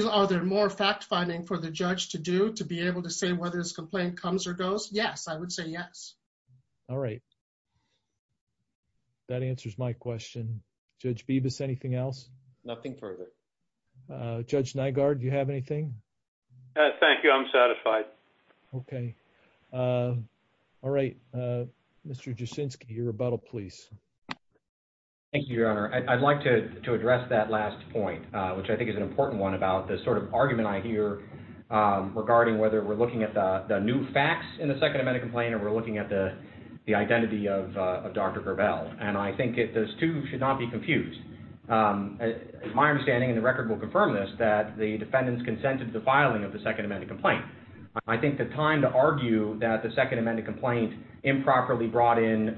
are there more fact finding for the judge to do to be able to say whether this complaint comes or goes? Yes. I would say yes. All right. That answers my question. Judge Bibas, anything else? Nothing further. Judge Nygaard, do you have anything? Thank you. I'm satisfied. Okay. All right. Mr. Jasinski, your rebuttal, please. Thank you, your honor. I'd like to, to address that last point, which I think is an important one about the sort of argument I hear regarding whether we're looking at the new facts in the second amendment complaint, or we're looking at the, the identity of Dr. Gravel. And I think it, those two should not be confused. My understanding and the record will confirm this, that the defendants consented to the filing of the second amendment complaint. I think the time to argue that the second amendment complaint improperly brought in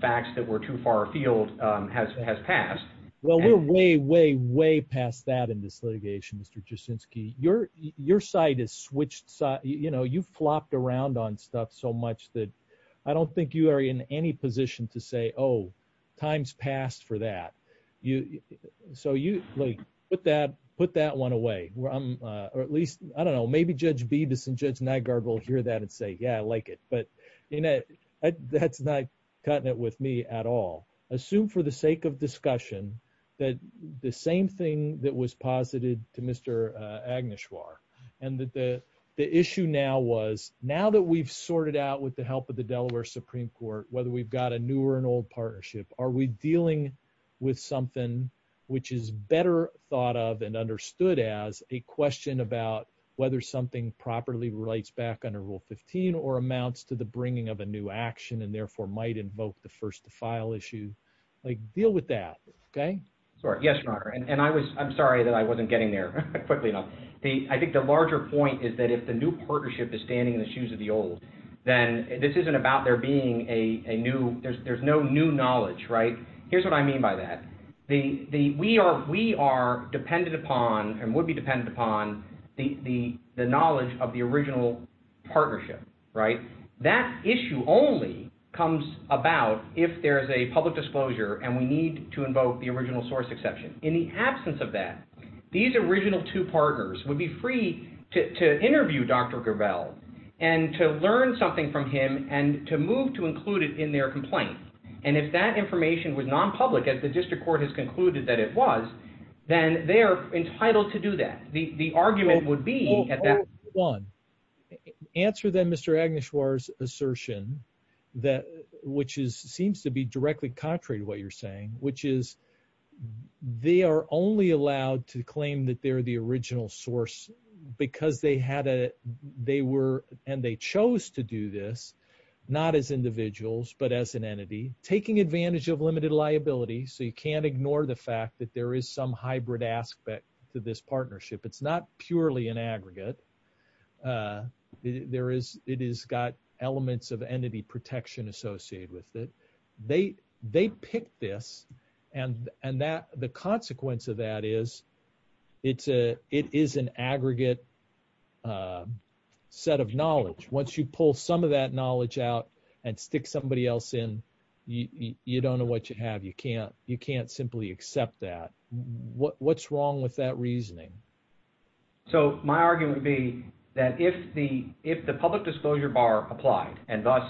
facts that were too far afield has, has passed. Well, we're way, way, way past that in this litigation, Mr. Jasinski. Your, your side is switched side. You know, you flopped around on stuff so much that I don't think you are in any position to say, oh, time's passed for that. You, so you like, put that, put that one away where I'm, or at least, I don't know, maybe judge Beavis and judge Nygaard will hear that and say, yeah, I like it, but that's not cutting it with me at all. Assume for the sake of discussion, that the same thing that was posited to Mr. Agneshwar, and that the, the issue now was now that we've sorted out with the help of the Delaware Supreme Court, whether we've got a new or an old partnership, are we dealing with something which is better thought of and understood as a question about whether something properly relates back under rule 15 or amounts to the bringing of a new action and therefore might invoke the first to file issue, like deal with that. Okay. Sorry. Yes, your honor. And I was, I'm sorry that I wasn't getting there quickly enough. The, I think the larger point is that if the new partnership is standing in the shoes of the old, then this isn't about there being a, a new, there's, there's no new knowledge, right? Here's what I mean by that. The, the, we are, we are dependent upon and would be dependent upon the, the, the knowledge of the original partnership, right? That issue only comes about if there's a public disclosure and we need to invoke the original source exception. In the absence of that, these original two partners would be free to interview Dr. Gravel and to learn something from him and to move to include it in their complaint. And if that information was non-public as the district court has concluded that it was, then they're entitled to do that. The, the argument would be at that one answer then Mr. Agnes Schwartz assertion that, which is, seems to be directly contrary to what you're saying, which is they are only allowed to claim that they're the original source because they had a, they were, and they chose to do this, not as individuals, but as an entity taking advantage of limited liability. So you can't ignore the fact that there is some hybrid aspect to this partnership. It's not purely an aggregate. There is, it is got elements of entity protection associated with it. They, they picked this and, and that the consequence of that is it's a, it is an aggregate set of knowledge. Once you pull some of that knowledge out and stick somebody else in, you, you don't know what you have. You can't, you can't simply accept that. What, what's wrong with that reasoning? So my argument would be that if the, if the public disclosure bar applied and thus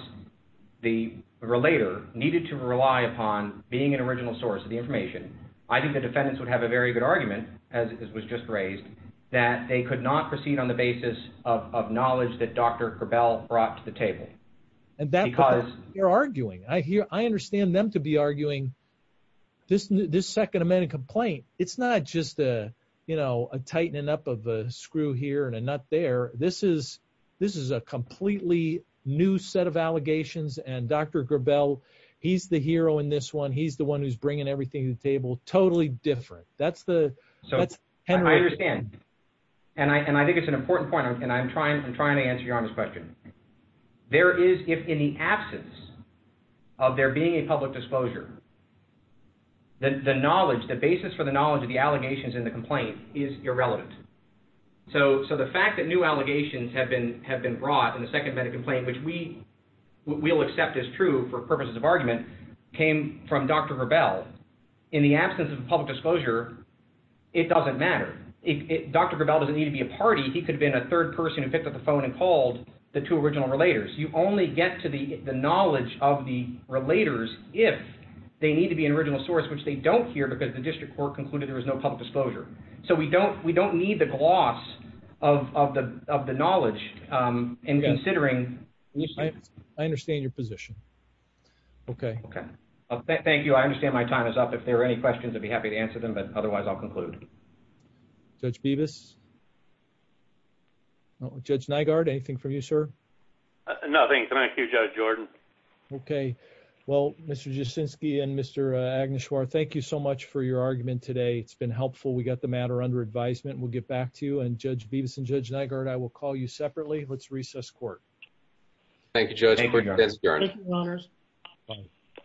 the relator needed to rely upon being an original source of the information, I think the defendants would have a very good argument as it was just raised, that they could not proceed on the basis of, of knowledge that Dr. Grabel brought to the table. And that because you're arguing, I hear, I understand them to be arguing this, this second amendment complaint. It's not just a, you know, a tightening up of a screw here and a nut there. This is, this is a completely new set of allegations. And Dr. Grabel, he's the hero in this one. He's the one who's bringing everything to the table. Totally different. That's the, I understand. And I, and I think it's an important point and I'm trying, I'm trying to answer your honest question. There is, if in the absence of there being a public disclosure, the knowledge, the basis for the knowledge of the allegations in the complaint is irrelevant. So, so the fact that new allegations have been, have been brought in the second amendment complaint, which we will accept as true for purposes of argument, came from Dr. Grabel. In the absence of public disclosure, it doesn't matter. If Dr. Grabel doesn't need to be a party, he could have been a third person who picked up the phone and called the two original relators. You only get to the knowledge of the relators if they need to be an original source, which they don't hear because the district court concluded there was no public disclosure. So we don't, we don't need the gloss of, of the, of the knowledge and considering. I understand your position. Okay. Okay. Thank you. I understand my time is up. If there are any questions, I'd be happy to answer them, but otherwise I'll conclude. Judge Beavis. Judge Nygaard, anything from you, sir? Nothing. Thank you, Judge Jordan. Okay. Well, Mr. Jasinski and Mr. Agnes Schwartz, thank you so much for your argument today. It's been helpful. We got the matter under advisement. We'll get back to you and Judge Beavis and Judge Nygaard, I will call you separately. Let's recess court. Thank you, Judge.